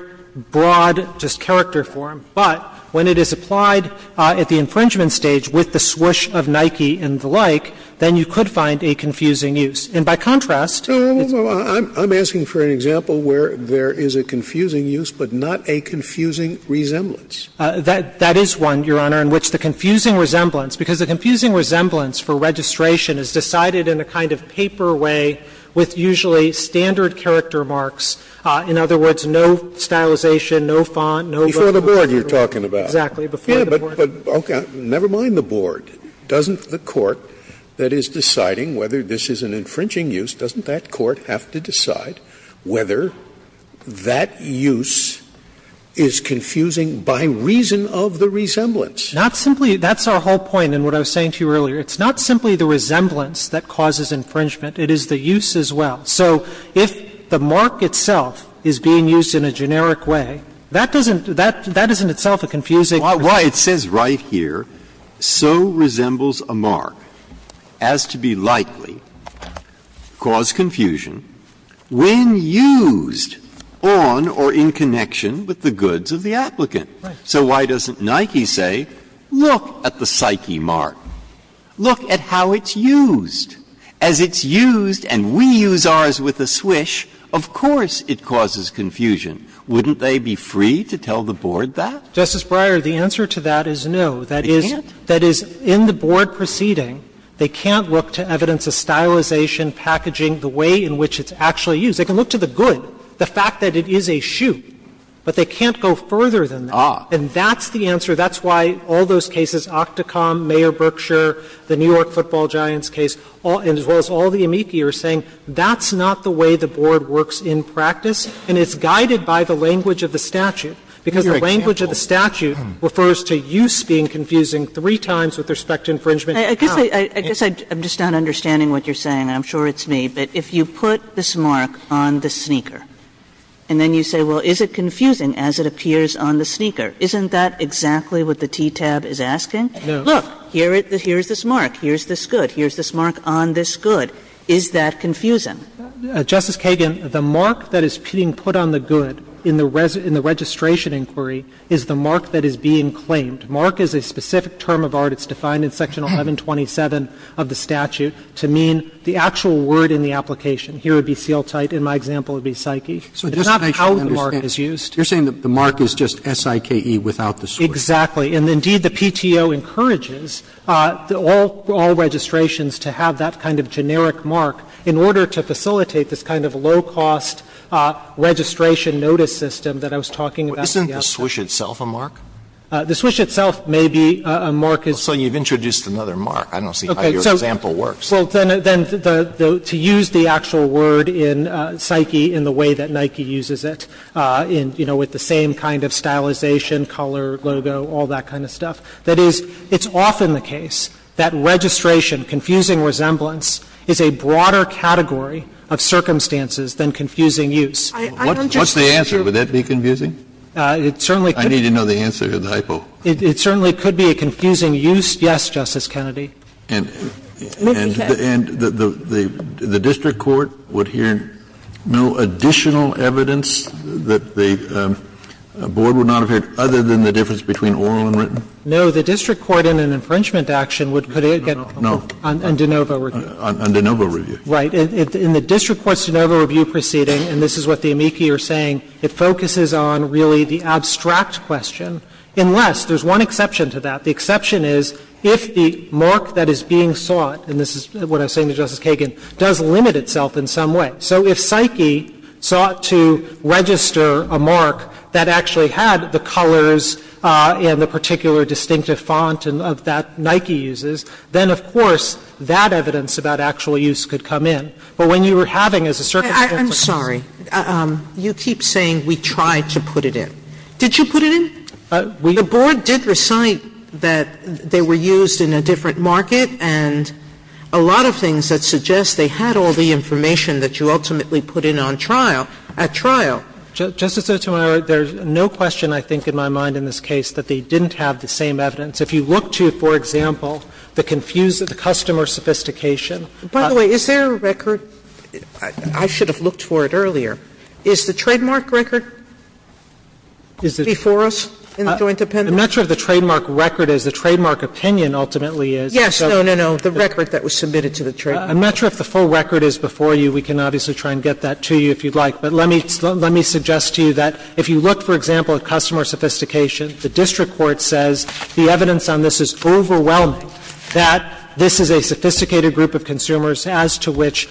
broad, just character form, but when it is applied at the infringement stage with the swoosh of Nike and the like, then you could find a confusing use. And by contrast, it's not. I'm asking for an example where there is a confusing use, but not a confusing resemblance. That is one, Your Honor, in which the confusing resemblance, because the confusing resemblance for registration is decided in a kind of paper way with usually standard character marks. In other words, no stylization, no font, no book. Before the board you're talking about. Exactly. Before the board. Never mind the board. Doesn't the court that is deciding whether this is an infringing use, doesn't that court have to decide whether that use is confusing by reason of the resemblance? Not simply that's our whole point in what I was saying to you earlier. It's not simply the resemblance that causes infringement. It is the use as well. So if the mark itself is being used in a generic way, that doesn't, that isn't itself a confusing. Breyer, it says right here, so resembles a mark as to be likely cause confusion when used on or in connection with the goods of the applicant. So why doesn't Nike say, look at the Psyche mark, look at how it's used, as it's used and we use ours with a swish, of course it causes confusion. Wouldn't they be free to tell the board that? Justice Breyer, the answer to that is no. They can't? That is, in the board proceeding, they can't look to evidence of stylization, packaging, the way in which it's actually used. They can look to the good, the fact that it is a shoe, but they can't go further than that. And that's the answer, that's why all those cases, Octocom, Mayor Berkshire, the New York football giants case, as well as all the amici are saying, that's not the way the board works in practice and it's guided by the language of the statute. Because the language of the statute refers to use being confusing three times with respect to infringement and how. Kagan, I guess I'm just not understanding what you're saying, I'm sure it's me. But if you put this mark on the sneaker and then you say, well, is it confusing as it appears on the sneaker, isn't that exactly what the TTAB is asking? Look, here is this mark, here is this good, here is this mark on this good, is that confusing? Justice Kagan, the mark that is being put on the good in the registration inquiry is the mark that is being claimed. Mark is a specific term of art, it's defined in section 1127 of the statute, to mean the actual word in the application. Here it would be seal tight, in my example it would be psyche. It's not how the mark is used. Roberts, you're saying the mark is just S-I-K-E without the sword. Exactly. And indeed, the PTO encourages all registrations to have that kind of generic mark in order to facilitate this kind of low-cost registration notice system that I was talking about. Isn't the swoosh itself a mark? The swoosh itself may be a mark. So you've introduced another mark. I don't see how your example works. Well, then to use the actual word in psyche in the way that Nike uses it, you know, with the same kind of stylization, color, logo, all that kind of stuff, that is, it's often the case that registration, confusing resemblance, is a broader category of circumstances than confusing use. What's the answer? Would that be confusing? It certainly could be. I need to know the answer to the hypo. It certainly could be a confusing use, yes, Justice Kennedy. And the district court would hear no additional evidence that the board would not have heard other than the difference between oral and written? No. The district court in an infringement action would get a no on de novo review. On de novo review. Right. In the district court's de novo review proceeding, and this is what the amici are saying, it focuses on really the abstract question, unless there's one exception to that. The exception is if the mark that is being sought, and this is what I was saying to Justice Kagan, does limit itself in some way. So if psyche sought to register a mark that actually had the colors and the particular distinctive font of that Nike uses, then of course that evidence about actual use could come in. But when you were having, as a circumstance, a confusing use. And I think that's what the board is saying. Sotomayor, you keep saying we tried to put it in. Did you put it in? The board did recite that they were used in a different market, and a lot of things Justice Sotomayor, there's no question, I think, in my mind in this case, that they didn't have the same evidence. If you look to, for example, the customer sophistication. By the way, is there a record? I should have looked for it earlier. Is the trademark record before us in the joint appendix? I'm not sure if the trademark record is. The trademark opinion ultimately is. Yes. No, no, no. The record that was submitted to the trademark. I'm not sure if the full record is before you. We can obviously try and get that to you if you'd like. But let me suggest to you that if you look, for example, at customer sophistication, the district court says the evidence on this is overwhelming, that this is a sophisticated group of consumers as to which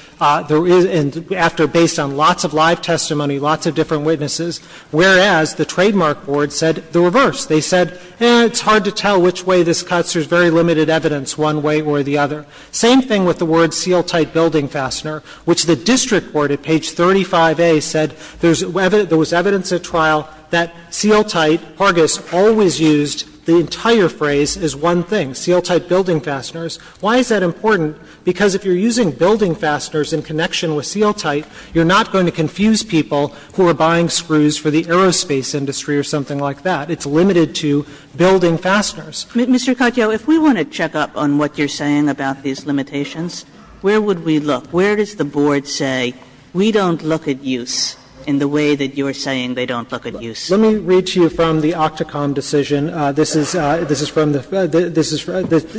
there is, and after based on lots of live testimony, lots of different witnesses, whereas the trademark board said the reverse. They said, it's hard to tell which way this cuts. There's very limited evidence one way or the other. Same thing with the word seal-tight building fastener, which the district court at page 35A said there was evidence at trial that seal-tight, Hargis, always used the entire phrase as one thing, seal-tight building fasteners. Why is that important? Because if you're using building fasteners in connection with seal-tight, you're not going to confuse people who are buying screws for the aerospace industry or something like that. It's limited to building fasteners. Mr. Katyal, if we want to check up on what you're saying about these limitations, where would we look? Where does the board say we don't look at use in the way that you're saying they don't look at use? Let me read to you from the OCTACOM decision. This is from the, this is, this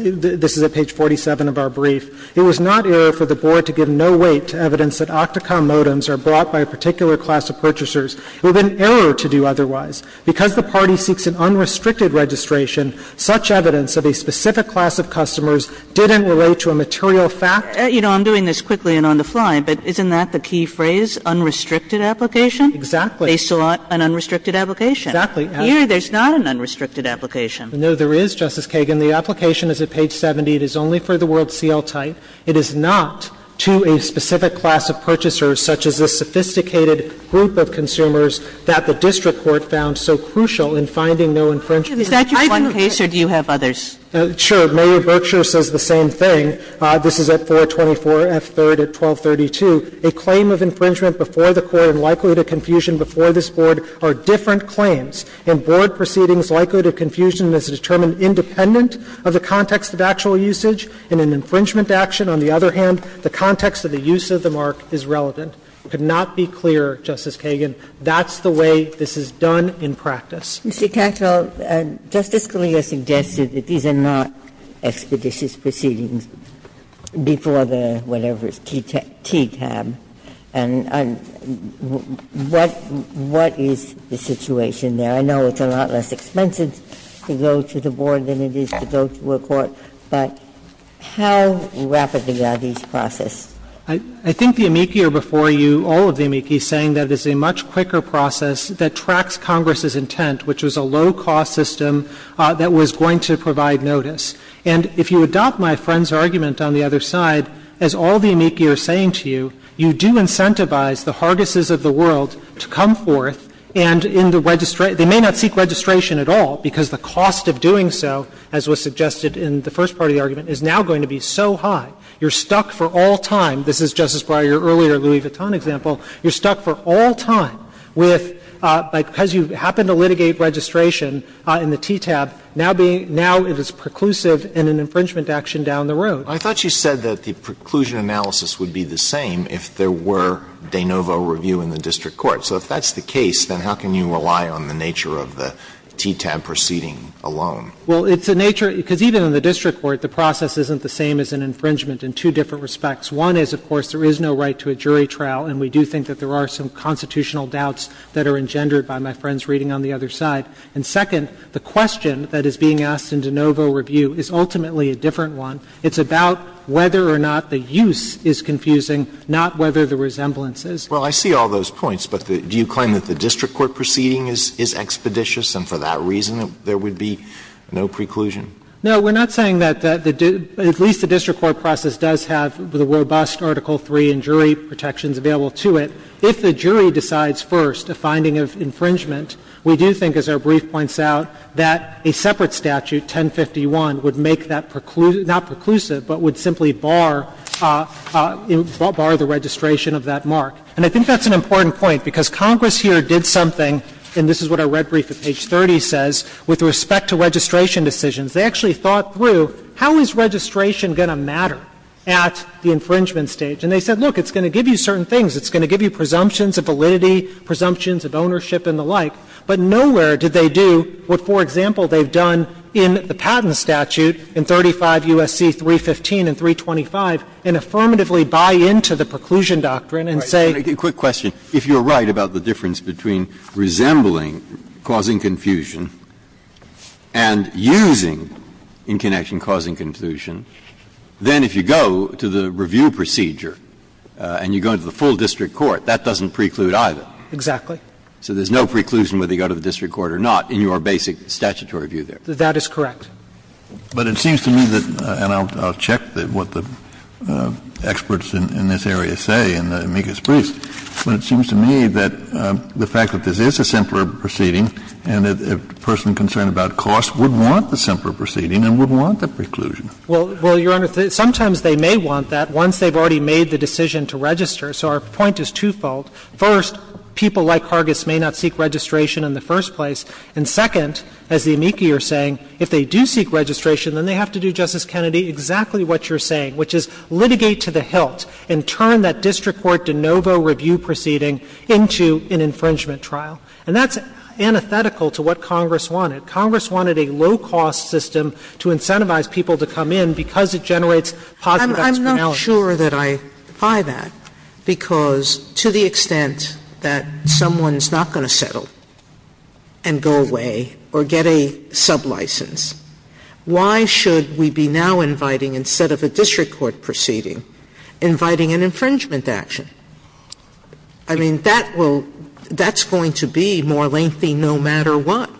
is at page 47 of our brief. It was not error for the board to give no weight to evidence that OCTACOM modems are brought by a particular class of purchasers, with an error to do otherwise. Because the party seeks an unrestricted registration, such evidence of a specific class of customers didn't relate to a material fact. Kagan. You know, I'm doing this quickly and on the fly, but isn't that the key phrase, unrestricted application? Exactly. They sought an unrestricted application. Exactly. Here, there's not an unrestricted application. No, there is, Justice Kagan. The application is at page 70. It is only for the word seal-tight. It is not to a specific class of purchasers, such as a sophisticated group of consumers that the district court found so crucial in finding no infringement. Is that your one case or do you have others? Sure. Mary Berkshire says the same thing. This is at 424F3rd at 1232. A claim of infringement before the court and likelihood of confusion before this board are different claims. In board proceedings, likelihood of confusion is determined independent of the context of actual usage. In an infringement action, on the other hand, the context of the use of the mark is relevant. It could not be clearer, Justice Kagan. And that's the way this is done in practice. Mr. Katyal, Justice Scalia suggested that these are not expeditious proceedings before the whatever is TTAB. And what is the situation there? I know it's a lot less expensive to go to the board than it is to go to a court, but how rapidly are these processed? I think the amici are before you, all of the amici, saying that it's a much quicker process that tracks Congress's intent, which was a low-cost system that was going to provide notice. And if you adopt my friend's argument on the other side, as all the amici are saying to you, you do incentivize the hargesses of the world to come forth and in the registration they may not seek registration at all, because the cost of doing so, as was suggested in the first part of the argument, is now going to be so high. You're stuck for all time, this is Justice Breyer's earlier Louis Vuitton example, you're stuck for all time with, because you happen to litigate registration in the TTAB, now being, now it is preclusive in an infringement action down the road. Alito I thought you said that the preclusion analysis would be the same if there were de novo review in the district court. So if that's the case, then how can you rely on the nature of the TTAB proceeding alone? Well, it's a nature, because even in the district court, the process isn't the same as an infringement in two different respects. One is, of course, there is no right to a jury trial, and we do think that there are some constitutional doubts that are engendered by my friend's reading on the other side. And second, the question that is being asked in de novo review is ultimately a different one. It's about whether or not the use is confusing, not whether the resemblance is. Alito Well, I see all those points, but do you claim that the district court proceeding is expeditious and for that reason there would be no preclusion? No, we're not saying that the — at least the district court process does have the robust Article III and jury protections available to it. If the jury decides first a finding of infringement, we do think, as our brief points out, that a separate statute, 1051, would make that preclusion — not preclusive, but would simply bar — bar the registration of that mark. And I think that's an important point, because Congress here did something, and this is what our red brief at page 30 says, with respect to registration decisions. They actually thought through, how is registration going to matter at the infringement stage? And they said, look, it's going to give you certain things. It's going to give you presumptions of validity, presumptions of ownership and the like. But nowhere did they do what, for example, they've done in the Patent Statute in 35 U.S.C. 315 and 325 and affirmatively buy into the preclusion doctrine and say — Breyer, a quick question. If you're right about the difference between resembling causing confusion and using preclude in connection causing confusion, then if you go to the review procedure and you go to the full district court, that doesn't preclude either. Exactly. So there's no preclusion whether you go to the district court or not in your basic statutory view there. That is correct. But it seems to me that — and I'll check what the experts in this area say in the amicus priest — but it seems to me that the fact that this is a simpler proceeding and a person concerned about cost would want the simpler proceeding and would want the preclusion. Well, Your Honor, sometimes they may want that once they've already made the decision to register. So our point is twofold. First, people like Hargis may not seek registration in the first place. And second, as the amicus are saying, if they do seek registration, then they have to do, Justice Kennedy, exactly what you're saying, which is litigate to the hilt and turn that district court de novo review proceeding into an infringement trial. And that's antithetical to what Congress wanted. Congress wanted a low-cost system to incentivize people to come in because it generates positive externalities. I'm not sure that I buy that, because to the extent that someone's not going to settle and go away or get a sublicense, why should we be now inviting, instead of a district court proceeding, inviting an infringement action? I mean, that will – that's going to be more lengthy no matter what,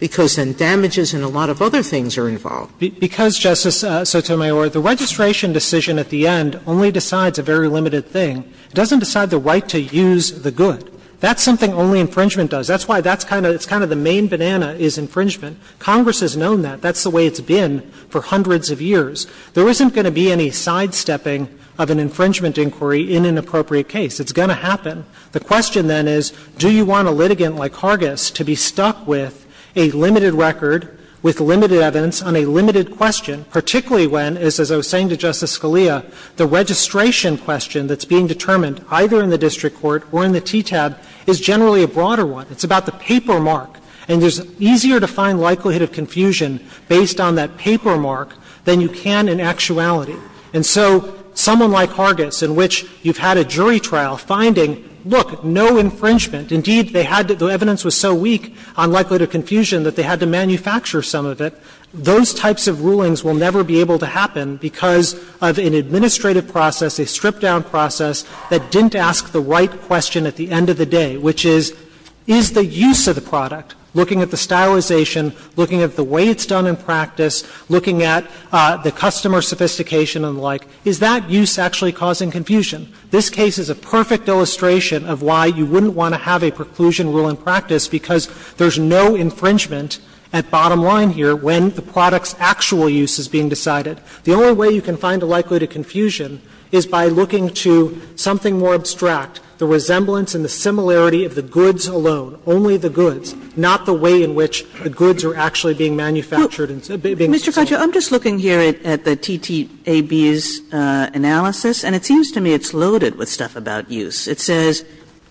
because then damages and a lot of other things are involved. Because, Justice Sotomayor, the registration decision at the end only decides a very limited thing. It doesn't decide the right to use the good. That's something only infringement does. That's why that's kind of – it's kind of the main banana is infringement. Congress has known that. That's the way it's been for hundreds of years. There isn't going to be any sidestepping of an infringement inquiry in an appropriate case. It's going to happen. The question, then, is do you want a litigant like Hargis to be stuck with a limited record, with limited evidence on a limited question, particularly when, as I was saying to Justice Scalia, the registration question that's being determined either in the district court or in the TTAB is generally a broader one. It's about the paper mark. And there's easier to find likelihood of confusion based on that paper mark than you can in actuality. And so someone like Hargis, in which you've had a jury trial finding, look, no infringement, indeed, they had to – the evidence was so weak on likelihood of confusion that they had to manufacture some of it, those types of rulings will never be able to happen because of an administrative process, a stripped-down process that didn't the right question at the end of the day, which is, is the use of the product, looking at the stylization, looking at the way it's done in practice, looking at the customer sophistication and the like, is that use actually causing confusion? This case is a perfect illustration of why you wouldn't want to have a preclusion rule in practice, because there's no infringement at bottom line here when the product's actual use is being decided. The only way you can find the likelihood of confusion is by looking to something more abstract, the resemblance and the similarity of the goods alone, only the goods, not the way in which the goods are actually being manufactured and being sold. Kagan. I'm just looking here at the TTAB's analysis and it seems to me it's loaded with stuff about use. It says,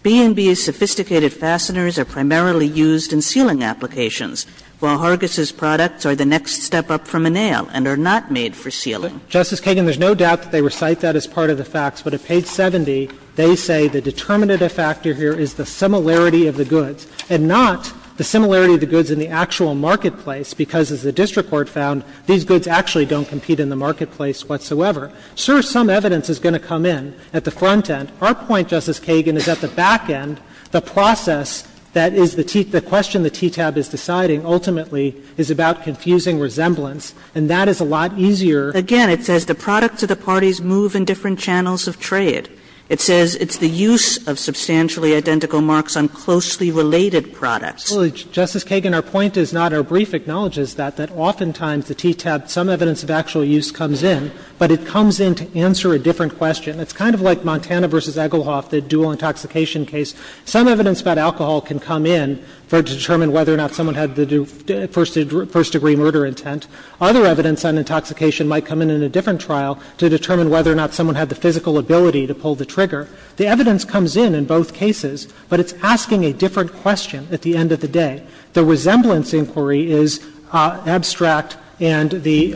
''B&B's sophisticated fasteners are primarily used in sealing applications, while Hargis's products are the next step up from a nail and are not made for sealing. Justice Kagan, there's no doubt that they recite that as part of the facts, but at page 70 they say the determinative factor here is the similarity of the goods and not the similarity of the goods in the actual marketplace, because as the district court found, these goods actually don't compete in the marketplace whatsoever. Sure, some evidence is going to come in at the front end. Our point, Justice Kagan, is at the back end, the process that is the TTAB, the question the TTAB is deciding ultimately is about confusing resemblance, and that is a lot easier. Again, it says the products of the parties move in different channels of trade. It says it's the use of substantially identical marks on closely related products. Well, Justice Kagan, our point is not our brief acknowledges that, that oftentimes the TTAB, some evidence of actual use comes in, but it comes in to answer a different question. It's kind of like Montana v. Egelhoff, the dual intoxication case. Some evidence about alcohol can come in to determine whether or not someone had the first degree murder intent. Other evidence on intoxication might come in in a different trial to determine whether or not someone had the physical ability to pull the trigger. The evidence comes in in both cases, but it's asking a different question at the end of the day. The resemblance inquiry is abstract and the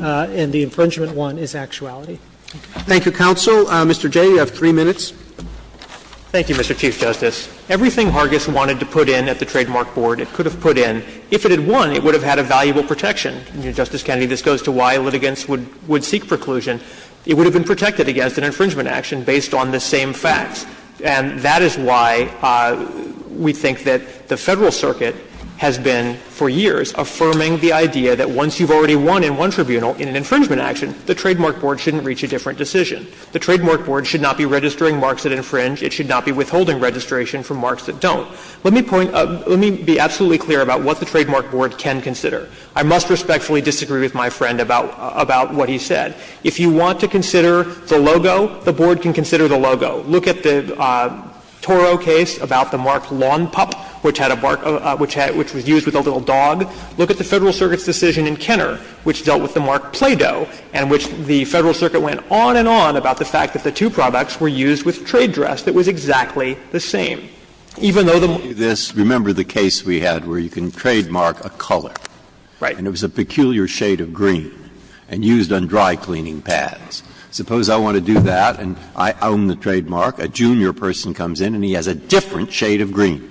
infringement one is actuality. Roberts. Thank you, counsel. Mr. Jay, you have three minutes. Thank you, Mr. Chief Justice. Everything Hargis wanted to put in at the trademark board, it could have put in. If it had won, it would have had a valuable protection. Justice Kennedy, this goes to why litigants would seek preclusion. It would have been protected against an infringement action based on the same facts. And that is why we think that the Federal Circuit has been for years affirming the idea that once you've already won in one tribunal in an infringement action, the trademark board shouldn't reach a different decision. The trademark board should not be registering marks that infringe. It should not be withholding registration for marks that don't. Let me point up – let me be absolutely clear about what the trademark board can consider. I must respectfully disagree with my friend about what he said. If you want to consider the logo, the board can consider the logo. Look at the Toro case about the mark Lawn Pup, which had a mark which was used with a little dog. Look at the Federal Circuit's decision in Kenner which dealt with the mark Play-Doh, in which the Federal Circuit went on and on about the fact that the two products were used with trade dress that was exactly the same. Even though the mark was the same. And it was a peculiar shade of green and used on dry-cleaning pads. Suppose I want to do that and I own the trademark. A junior person comes in and he has a different shade of green.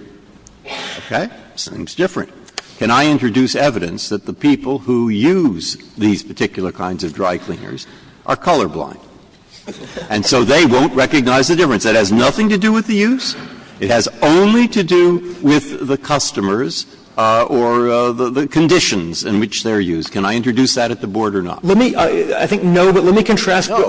Okay? Seems different. Can I introduce evidence that the people who use these particular kinds of dry cleaners are colorblind? And so they won't recognize the difference. That has nothing to do with the use. It has only to do with the customers or the conditions in which they are used. Can I introduce that at the board or not? Let me, I think no, but let me contrast. But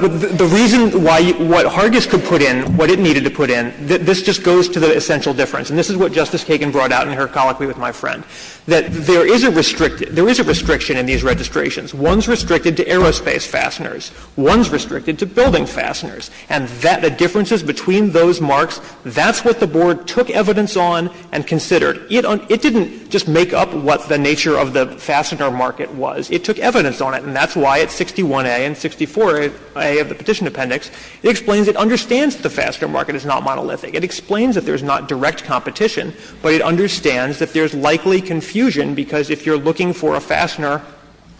the reason why what Hargis could put in, what it needed to put in, this just goes to the essential difference. And this is what Justice Kagan brought out in her colloquy with my friend, that there is a restricted, there is a restriction in these registrations. One's restricted to aerospace fasteners, one's restricted to building fasteners. And that, the differences between those marks, that's what the board took evidence on and considered. It didn't just make up what the nature of the fastener market was. It took evidence on it. And that's why at 61a and 64a of the Petition Appendix, it explains it understands that the fastener market is not monolithic. It explains that there's not direct competition, but it understands that there's likely confusion because if you're looking for a fastener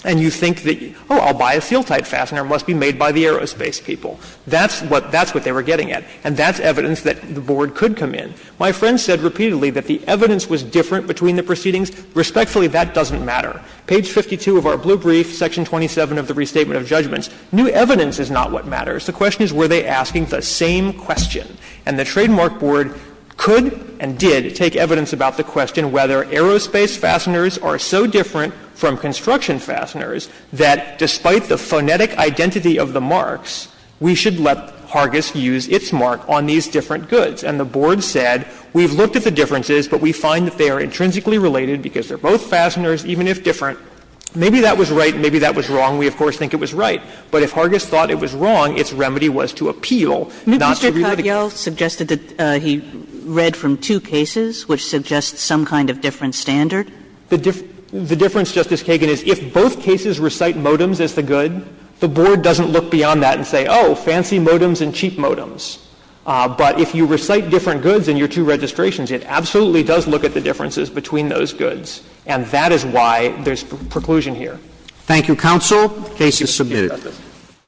and you think that, oh, I'll buy a seal-type fastener, it must be made by the aerospace people. That's what they were getting at. And that's evidence that the board could come in. My friend said repeatedly that the evidence was different between the proceedings. Respectfully, that doesn't matter. Page 52 of our blue brief, Section 27 of the Restatement of Judgments, new evidence is not what matters. The question is, were they asking the same question? And the trademark board could and did take evidence about the question whether aerospace fasteners are so different from construction fasteners that despite the phonetic identity of the marks, we should let Hargis use its mark on these different goods. And the board said, we've looked at the differences, but we find that they are intrinsically related because they're both fasteners, even if different. Maybe that was right, maybe that was wrong. We, of course, think it was right. But if Hargis thought it was wrong, its remedy was to appeal, not to relitigate. Kagan. Mr. Kavial suggested that he read from two cases, which suggests some kind of different standard. The difference, Justice Kagan, is if both cases recite modems as the good, the board doesn't look beyond that and say, oh, fancy modems and cheap modems. But if you recite different goods in your two registrations, it absolutely does look at the differences between those goods. And that is why there's preclusion here. Thank you, counsel. The case is submitted.